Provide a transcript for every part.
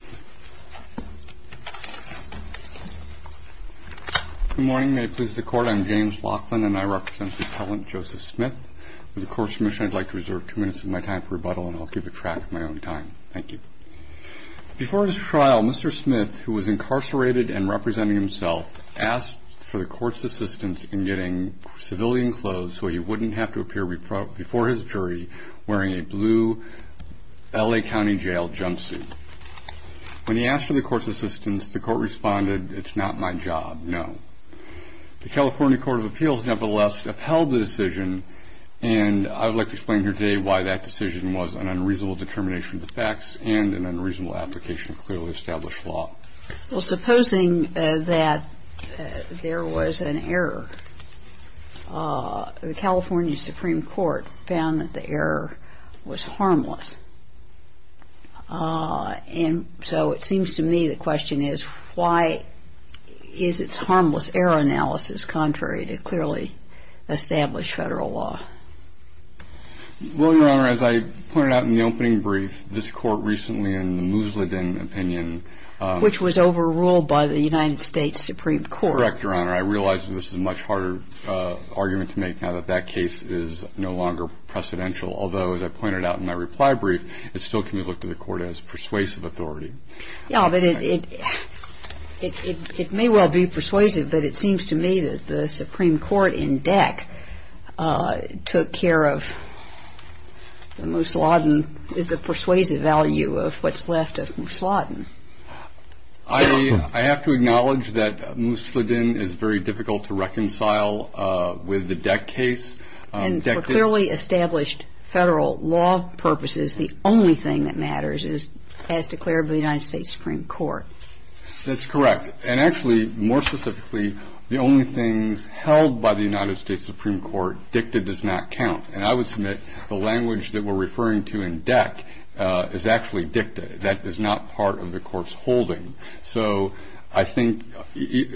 Good morning. May it please the court, I'm James Laughlin and I represent the appellant Joseph Smith. With the court's permission I'd like to reserve two minutes of my time for rebuttal and I'll keep a track of my own time. Thank you. Before his trial, Mr. Smith, who was incarcerated and representing himself, asked for the court's assistance in getting civilian clothes so he wouldn't have to appear before his jury wearing a blue L.A. County jail jumpsuit. When he asked for the court's assistance, the court responded, it's not my job, no. The California Court of Appeals nevertheless upheld the decision and I would like to explain here today why that decision was an unreasonable determination of the facts and an unreasonable application of clearly established law. Well, supposing that there was an error. The California Supreme Court found that the error was harmless. And so it seems to me the question is why is its harmless error analysis contrary to clearly established federal law? Well, Your Honor, as I pointed out in the opening brief, this court recently in the Musladin opinion. Which was overruled by the United States Supreme Court. Correct, Your Honor. I realize that this is a much harder argument to make now that that case is no longer precedential. Although, as I pointed out in my reply brief, it still can be looked to the court as persuasive authority. Yeah, but it may well be persuasive, but it seems to me that the Supreme Court in DEC took care of the Musladin, the persuasive value of what's left of Musladin. I have to acknowledge that Musladin is very difficult to reconcile with the DEC case. And for clearly established federal law purposes, the only thing that matters is as declared by the United States Supreme Court. That's correct. And actually, more specifically, the only things held by the United States Supreme Court DICTA does not count. And I would submit the language that we're referring to in DEC is actually DICTA. That is not part of the court's holding. So I think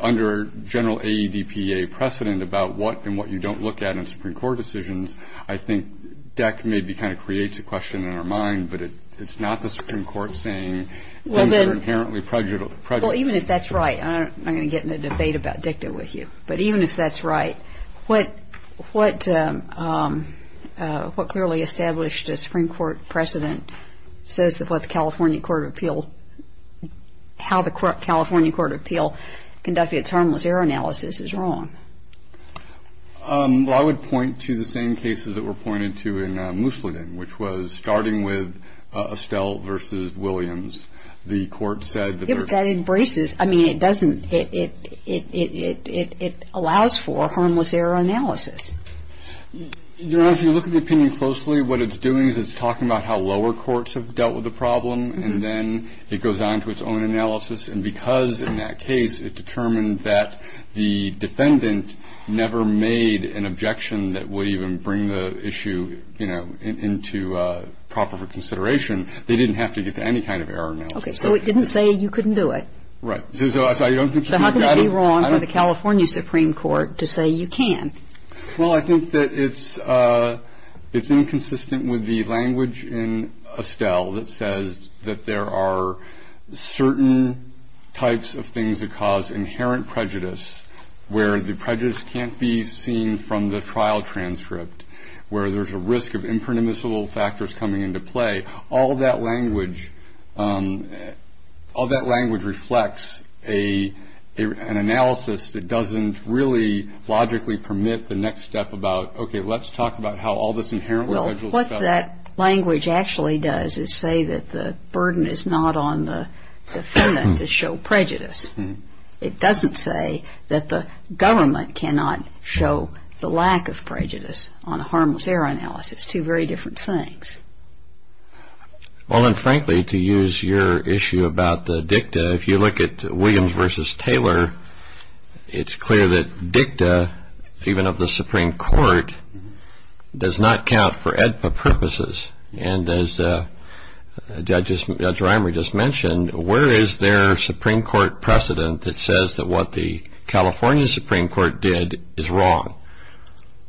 under general AEDPA precedent about what and what you don't look at in Supreme Court decisions, I think DEC maybe kind of creates a question in our mind. But it's not the Supreme Court saying things are inherently prejudicial. Well, even if that's right, I'm not going to get in a debate about DICTA with you. But even if that's right, what clearly established Supreme Court precedent says about the California Court of Appeal, how the California Court of Appeal conducted its harmless error analysis is wrong. Well, I would point to the same cases that were pointed to in Musladin, which was starting with Estelle v. Williams. The court said that they're... That embraces. I mean, it doesn't. It allows for harmless error analysis. Your Honor, if you look at the opinion closely, what it's doing is it's talking about how lower courts have dealt with the problem. And then it goes on to its own analysis. And because in that case it determined that the defendant never made an objection that would even bring the issue, you know, into proper consideration, they didn't have to get to any kind of error analysis. Okay. So it didn't say you couldn't do it. Right. So I don't think... So how can it be wrong for the California Supreme Court to say you can? Well, I think that it's inconsistent with the language in Estelle that says that there are certain types of things that cause inherent prejudice, where the prejudice can't be seen from the trial transcript, where there's a risk of impermissible factors coming into play. All of that language reflects an analysis that doesn't really logically permit the next step about, okay, let's talk about how all this inherent prejudice... Well, what that language actually does is say that the burden is not on the defendant to show prejudice. It doesn't say that the government cannot show the lack of prejudice on a harmless error analysis. Two very different things. Well, and frankly, to use your issue about the dicta, if you look at Williams v. Taylor, it's clear that dicta, even of the Supreme Court, does not count for AEDPA purposes. And as Judge Reimer just mentioned, where is their Supreme Court precedent that says that what the California Supreme Court did is wrong?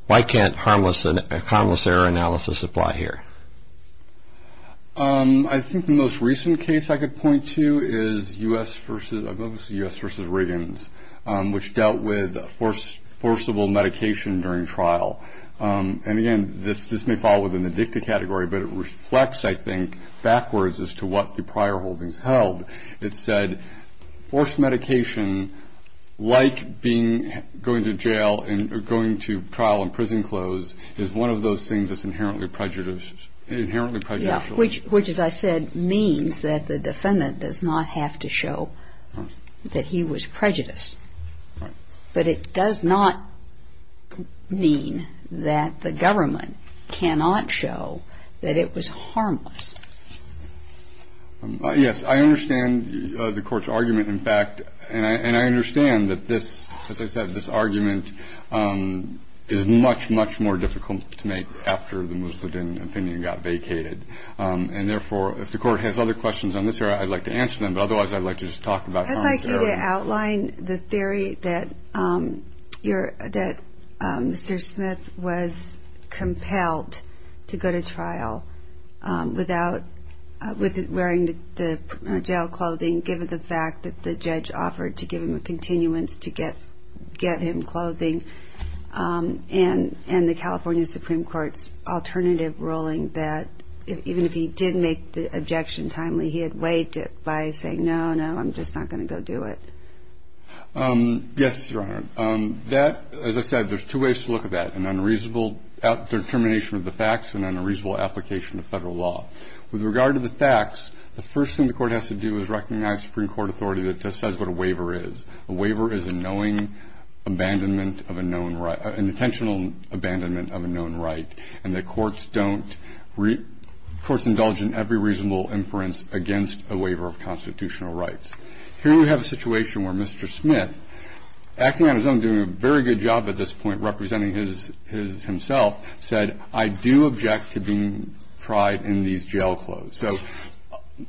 Why can't a harmless error analysis apply here? I think the most recent case I could point to is U.S. v. Riggins, which dealt with forcible medication during trial. And again, this may fall within the dicta category, but it reflects, I think, backwards as to what the prior holdings held. It said forced medication, like going to jail and going to trial in prison clothes, is one of those things that's inherently prejudicial. Yeah, which, as I said, means that the defendant does not have to show that he was prejudiced. Right. But it does not mean that the government cannot show that it was harmless. Yes. I understand the Court's argument, in fact, and I understand that this, as I said, this argument is much, much more difficult to make after the Muslim opinion got vacated. And therefore, if the Court has other questions on this area, I'd like to answer them. But otherwise, I'd like to just talk about harmless error. I'd like you to outline the theory that Mr. Smith was compelled to go to trial without wearing the jail clothing, given the fact that the judge offered to give him a continuance to get him clothing, and the California Supreme Court's alternative ruling that even if he did make the objection timely, he had weighed it by saying, no, no, I'm just not going to go do it. Yes, Your Honor. That, as I said, there's two ways to look at that, an unreasonable determination of the facts and an unreasonable application of Federal law. With regard to the facts, the first thing the Court has to do is recognize Supreme Court authority that just says what a waiver is. A waiver is a knowing abandonment of a known right, an intentional abandonment of a known right, and the courts indulge in every reasonable inference against a waiver of constitutional rights. Here we have a situation where Mr. Smith, acting on his own, doing a very good job at this point representing himself, said, I do object to being tried in these jail clothes. So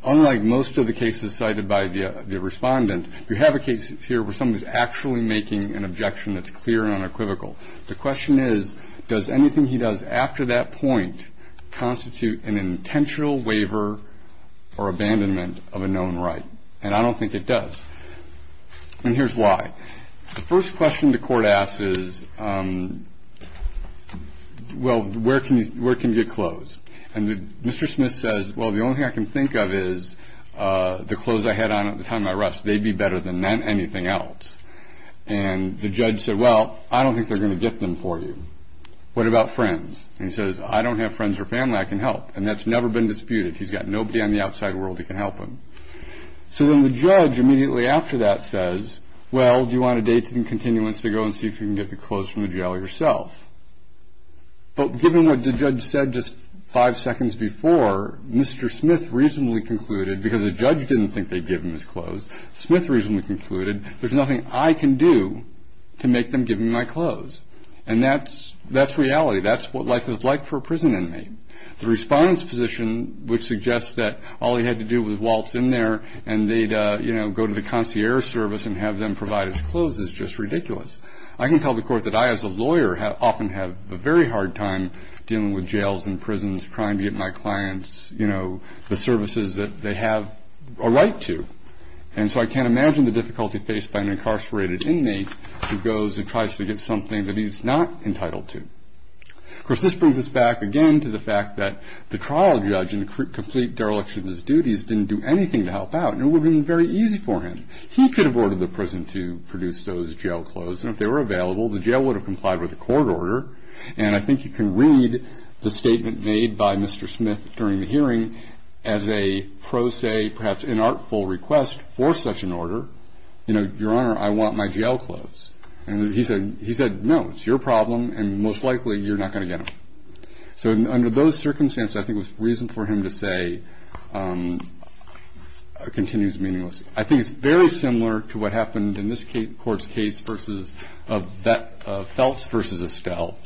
unlike most of the cases cited by the Respondent, you have a case here where someone is actually making an objection that's clear and unequivocal. The question is, does anything he does after that point constitute an intentional waiver or abandonment of a known right? And I don't think it does. And here's why. The first question the Court asks is, well, where can you get clothes? And Mr. Smith says, well, the only thing I can think of is the clothes I had on at the time of my arrest. They'd be better than anything else. And the judge said, well, I don't think they're going to get them for you. What about friends? And he says, I don't have friends or family I can help. And that's never been disputed. He's got nobody on the outside world who can help him. So then the judge, immediately after that, says, well, do you want a date and continuance to go and see if you can get the clothes from the jail yourself? But given what the judge said just five seconds before, Mr. Smith reasonably concluded, because the judge didn't think they'd give him his clothes, Smith reasonably concluded, there's nothing I can do to make them give him my clothes. And that's reality. That's what life is like for a prison inmate. The respondent's position, which suggests that all he had to do was waltz in there and they'd go to the concierge service and have them provide his clothes, is just ridiculous. I can tell the Court that I, as a lawyer, often have a very hard time dealing with jails and prisons, trying to get my clients the services that they have a right to. And so I can't imagine the difficulty faced by an incarcerated inmate who goes and tries to get something that he's not entitled to. Of course, this brings us back again to the fact that the trial judge, in complete dereliction of his duties, didn't do anything to help out. It would have been very easy for him. He could have ordered the prison to produce those jail clothes. And if they were available, the jail would have complied with the court order. And I think you can read the statement made by Mr. Smith during the hearing as a pro se, perhaps inartful request for such an order. You know, Your Honor, I want my jail clothes. And he said, no, it's your problem, and most likely you're not going to get them. So under those circumstances, I think the reason for him to say, continues meaningless. I think it's very similar to what happened in this court's case of Feltz v. Estelle,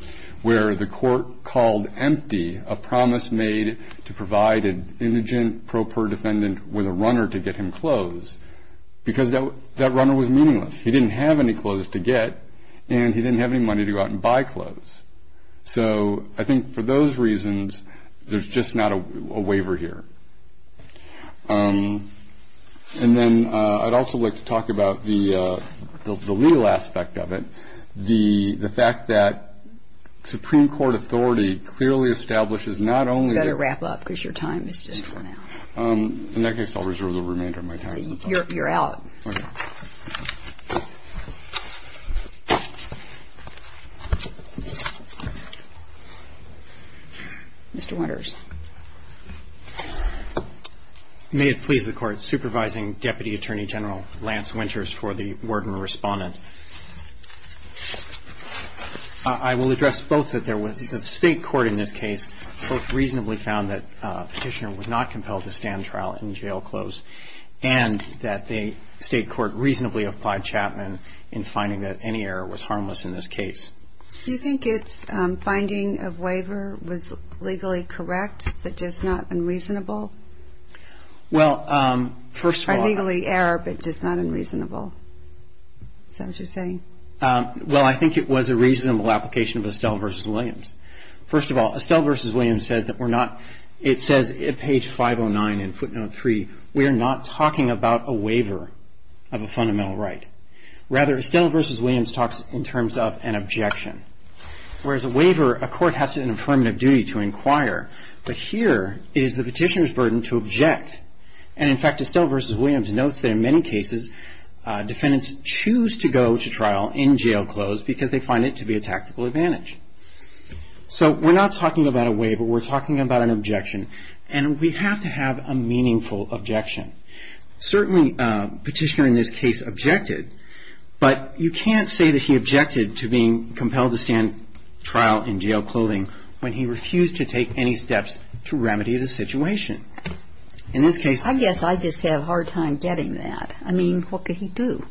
where the court called empty a promise made to provide an indigent pro per defendant with a runner to get him clothes, because that runner was meaningless. He didn't have any clothes to get, and he didn't have any money to go out and buy clothes. So I think for those reasons, there's just not a waiver here. And then I'd also like to talk about the legal aspect of it. The fact that Supreme Court authority clearly establishes not only that. You better wrap up, because your time has just run out. In that case, I'll reserve the remainder of my time. You're out. Okay. Mr. Winters. May it please the Court. Supervising Deputy Attorney General Lance Winters for the Worden Respondent. I will address both that there was a state court in this case, both reasonably found that Petitioner was not compelled to stand trial and jail clothes, and that the state court reasonably applied Chapman in finding that any error was harmless in this case. Do you think its finding of waiver was legally correct, but just not unreasonable? Well, first of all. Or legally error, but just not unreasonable. Is that what you're saying? Well, I think it was a reasonable application of Estelle v. Williams. First of all, Estelle v. Williams says that we're not, it says at page 509 in footnote 3, we are not talking about a waiver of a fundamental right. Rather, Estelle v. Williams talks in terms of an objection. Whereas a waiver, a court has an affirmative duty to inquire. But here, it is the Petitioner's burden to object. And in fact, Estelle v. Williams notes that in many cases, defendants choose to go to trial in jail clothes because they find it to be a tactical advantage. So we're not talking about a waiver, we're talking about an objection. And we have to have a meaningful objection. Certainly, Petitioner in this case objected, but you can't say that he objected to being compelled to stand trial in jail clothing when he refused to take any steps to remedy the situation. In this case. I guess I just have a hard time getting that. I mean, what could he do?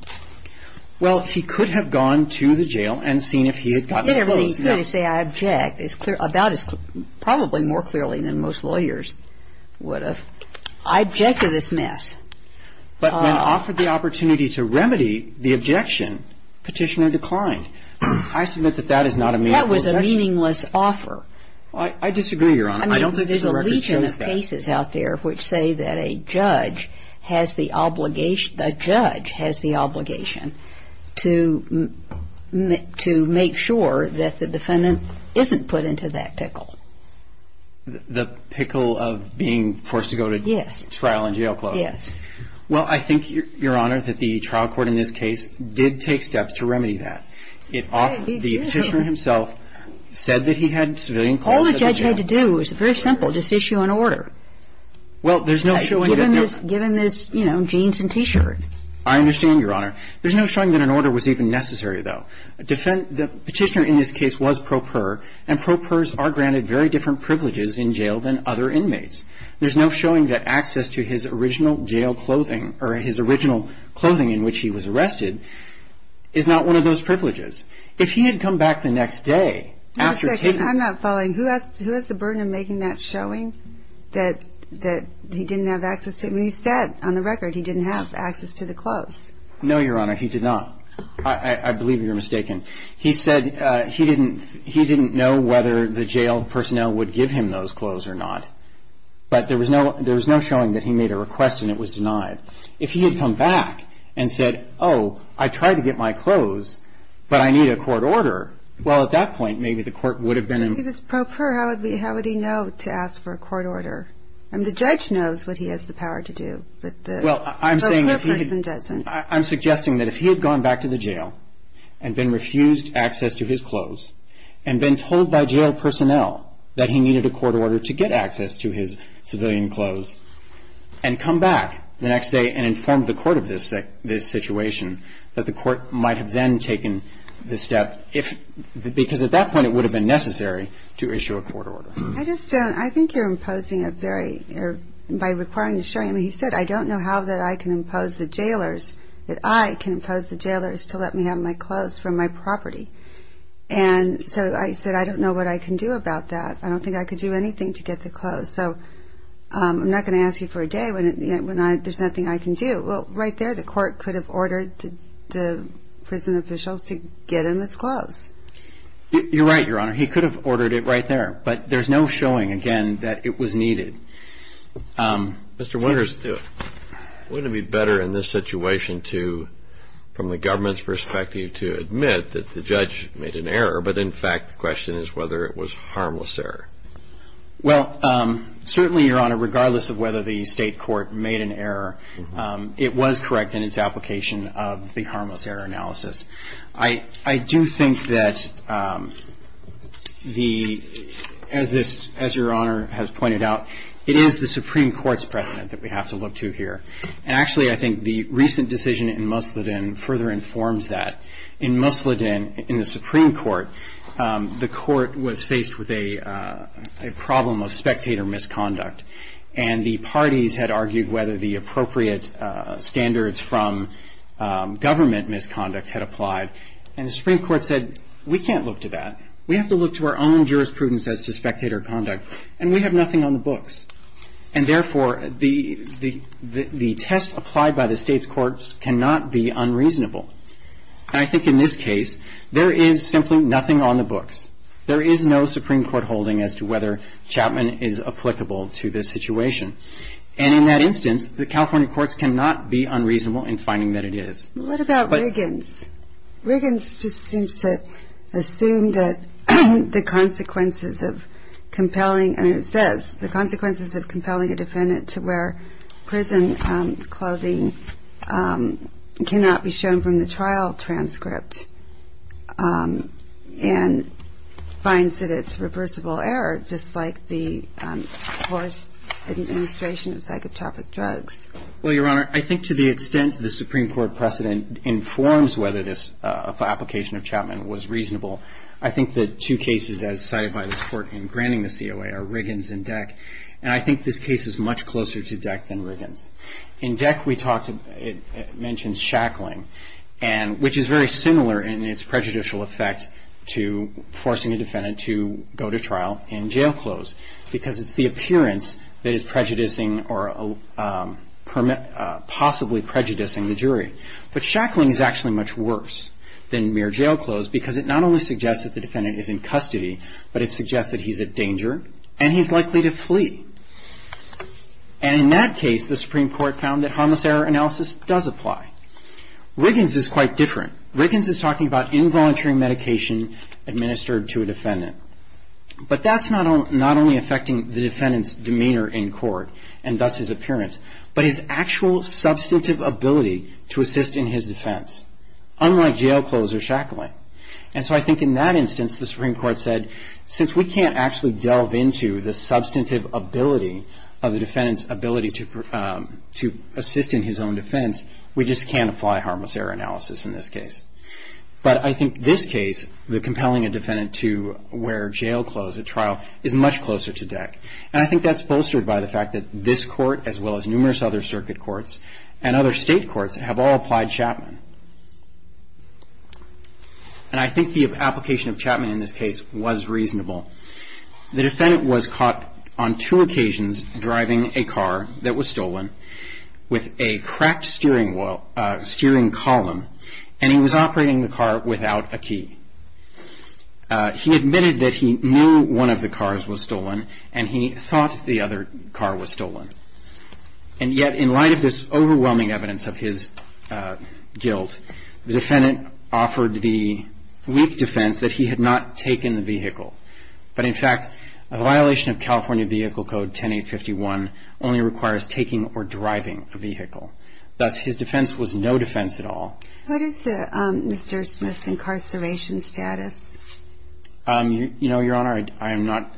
Well, he could have gone to the jail and seen if he had gotten the clothes. He could have said, I object. It's clear, about as clear, probably more clearly than most lawyers would have. I object to this mess. But when offered the opportunity to remedy the objection, Petitioner declined. I submit that that is not a meaningful objection. That was a meaningless offer. I disagree, Your Honor. I don't think that the record shows that. There are a legion of cases out there which say that a judge has the obligation, the judge has the obligation to make sure that the defendant isn't put into that pickle. The pickle of being forced to go to trial in jail clothing. Yes. Well, I think, Your Honor, that the trial court in this case did take steps to remedy that. It offered, the Petitioner himself said that he had civilian clothes. All the judge had to do, it was very simple, just issue an order. Well, there's no showing that there was. Give him his, you know, jeans and T-shirt. I understand, Your Honor. There's no showing that an order was even necessary, though. The Petitioner in this case was pro per, and pro pers are granted very different privileges in jail than other inmates. There's no showing that access to his original jail clothing or his original clothing in which he was arrested is not one of those privileges. If he had come back the next day after taking. I'm not following. Who has the burden of making that showing that he didn't have access? I mean, he said on the record he didn't have access to the clothes. No, Your Honor, he did not. I believe you're mistaken. He said he didn't know whether the jail personnel would give him those clothes or not. But there was no showing that he made a request and it was denied. If he had come back and said, oh, I tried to get my clothes, but I need a court order, well, at that point maybe the court would have been in. If it was pro per, how would he know to ask for a court order? I mean, the judge knows what he has the power to do, but the per person doesn't. I'm suggesting that if he had gone back to the jail and been refused access to his clothes and been told by jail personnel that he needed a court order to get access to his civilian clothes and come back the next day and informed the court of this situation, that the court might have then taken the step, because at that point it would have been necessary to issue a court order. I just don't. I think you're imposing a very, by requiring the showing. I mean, he said, I don't know how that I can impose the jailers, that I can impose the jailers to let me have my clothes from my property. And so I said, I don't know what I can do about that. I don't think I can do anything to get the clothes. So I'm not going to ask you for a day when there's nothing I can do. Well, right there the court could have ordered the prison officials to get him his clothes. You're right, Your Honor. He could have ordered it right there. But there's no showing, again, that it was needed. Mr. Winters, wouldn't it be better in this situation to, from the government's perspective, to admit that the judge made an error, but in fact the question is whether it was a harmless error? Well, certainly, Your Honor, regardless of whether the State court made an error, it was correct in its application of the harmless error analysis. I do think that the, as this, as Your Honor has pointed out, it is the Supreme Court's precedent that we have to look to here. And actually I think the recent decision in Musladin further informs that. In Musladin, in the Supreme Court, the court was faced with a problem of spectator misconduct. And the parties had argued whether the appropriate standards from government misconduct had applied. And the Supreme Court said, we can't look to that. We have to look to our own jurisprudence as to spectator conduct. And we have nothing on the books. And therefore, the test applied by the State's courts cannot be unreasonable. And I think in this case, there is simply nothing on the books. There is no Supreme Court holding as to whether Chapman is applicable to this situation. And in that instance, the California courts cannot be unreasonable in finding that it is. What about Wiggins? Wiggins just seems to assume that the consequences of compelling, and it says, the consequences of compelling a defendant to wear prison clothing cannot be shown from the trial transcript and finds that it's reversible error, just like the forced administration of psychotropic drugs. Well, Your Honor, I think to the extent the Supreme Court precedent informs whether this application of Chapman was reasonable, I think the two cases as cited by this Court in granting the COA are Wiggins and Deck. And I think this case is much closer to Deck than Wiggins. In Deck, we talked, it mentions shackling, and which is very similar in its prejudicial effect to forcing a defendant to go to trial in jail clothes, because it's the appearance that is prejudicing or possibly prejudicing the jury. But shackling is actually much worse than mere jail clothes because it not only suggests that the defendant is in custody, but it suggests that he's a danger and he's likely to flee. And in that case, the Supreme Court found that harmless error analysis does apply. Wiggins is quite different. Wiggins is talking about involuntary medication administered to a defendant. But that's not only affecting the defendant's demeanor in court and thus his appearance, but his actual substantive ability to assist in his defense, unlike jail clothes or shackling. And so I think in that instance, the Supreme Court said, since we can't actually delve into the substantive ability of the defendant's ability to assist in his own defense, we just can't apply harmless error analysis in this case. But I think this case, the compelling a defendant to wear jail clothes at trial, is much closer to Deck. And I think that's bolstered by the fact that this court, as well as numerous other circuit courts, and other state courts have all applied Chapman. And I think the application of Chapman in this case was reasonable. The defendant was caught on two occasions driving a car that was stolen with a cracked steering column, and he was operating the car without a key. He admitted that he knew one of the cars was stolen, and he thought the other car was stolen. And yet, in light of this overwhelming evidence of his guilt, the defendant offered the weak defense that he had not taken the vehicle. But in fact, a violation of California Vehicle Code 10851 only requires taking or driving a vehicle. Thus, his defense was no defense at all. What is Mr. Smith's incarceration status? You know, Your Honor, I am not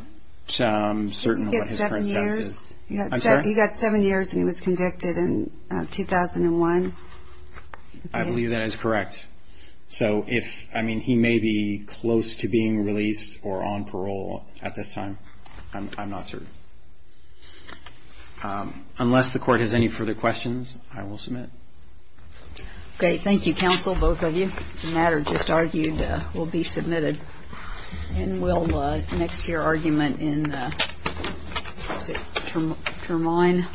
certain of what his current status is. You've got seven years. I'm sorry? You've got seven years, and he was convicted in 2001. I believe that is correct. So if, I mean, he may be close to being released or on parole at this time, I'm not certain. Unless the Court has any further questions, I will submit. Okay, thank you, counsel, both of you. The matter just argued will be submitted. And we'll next hear argument in the term line. Thank you.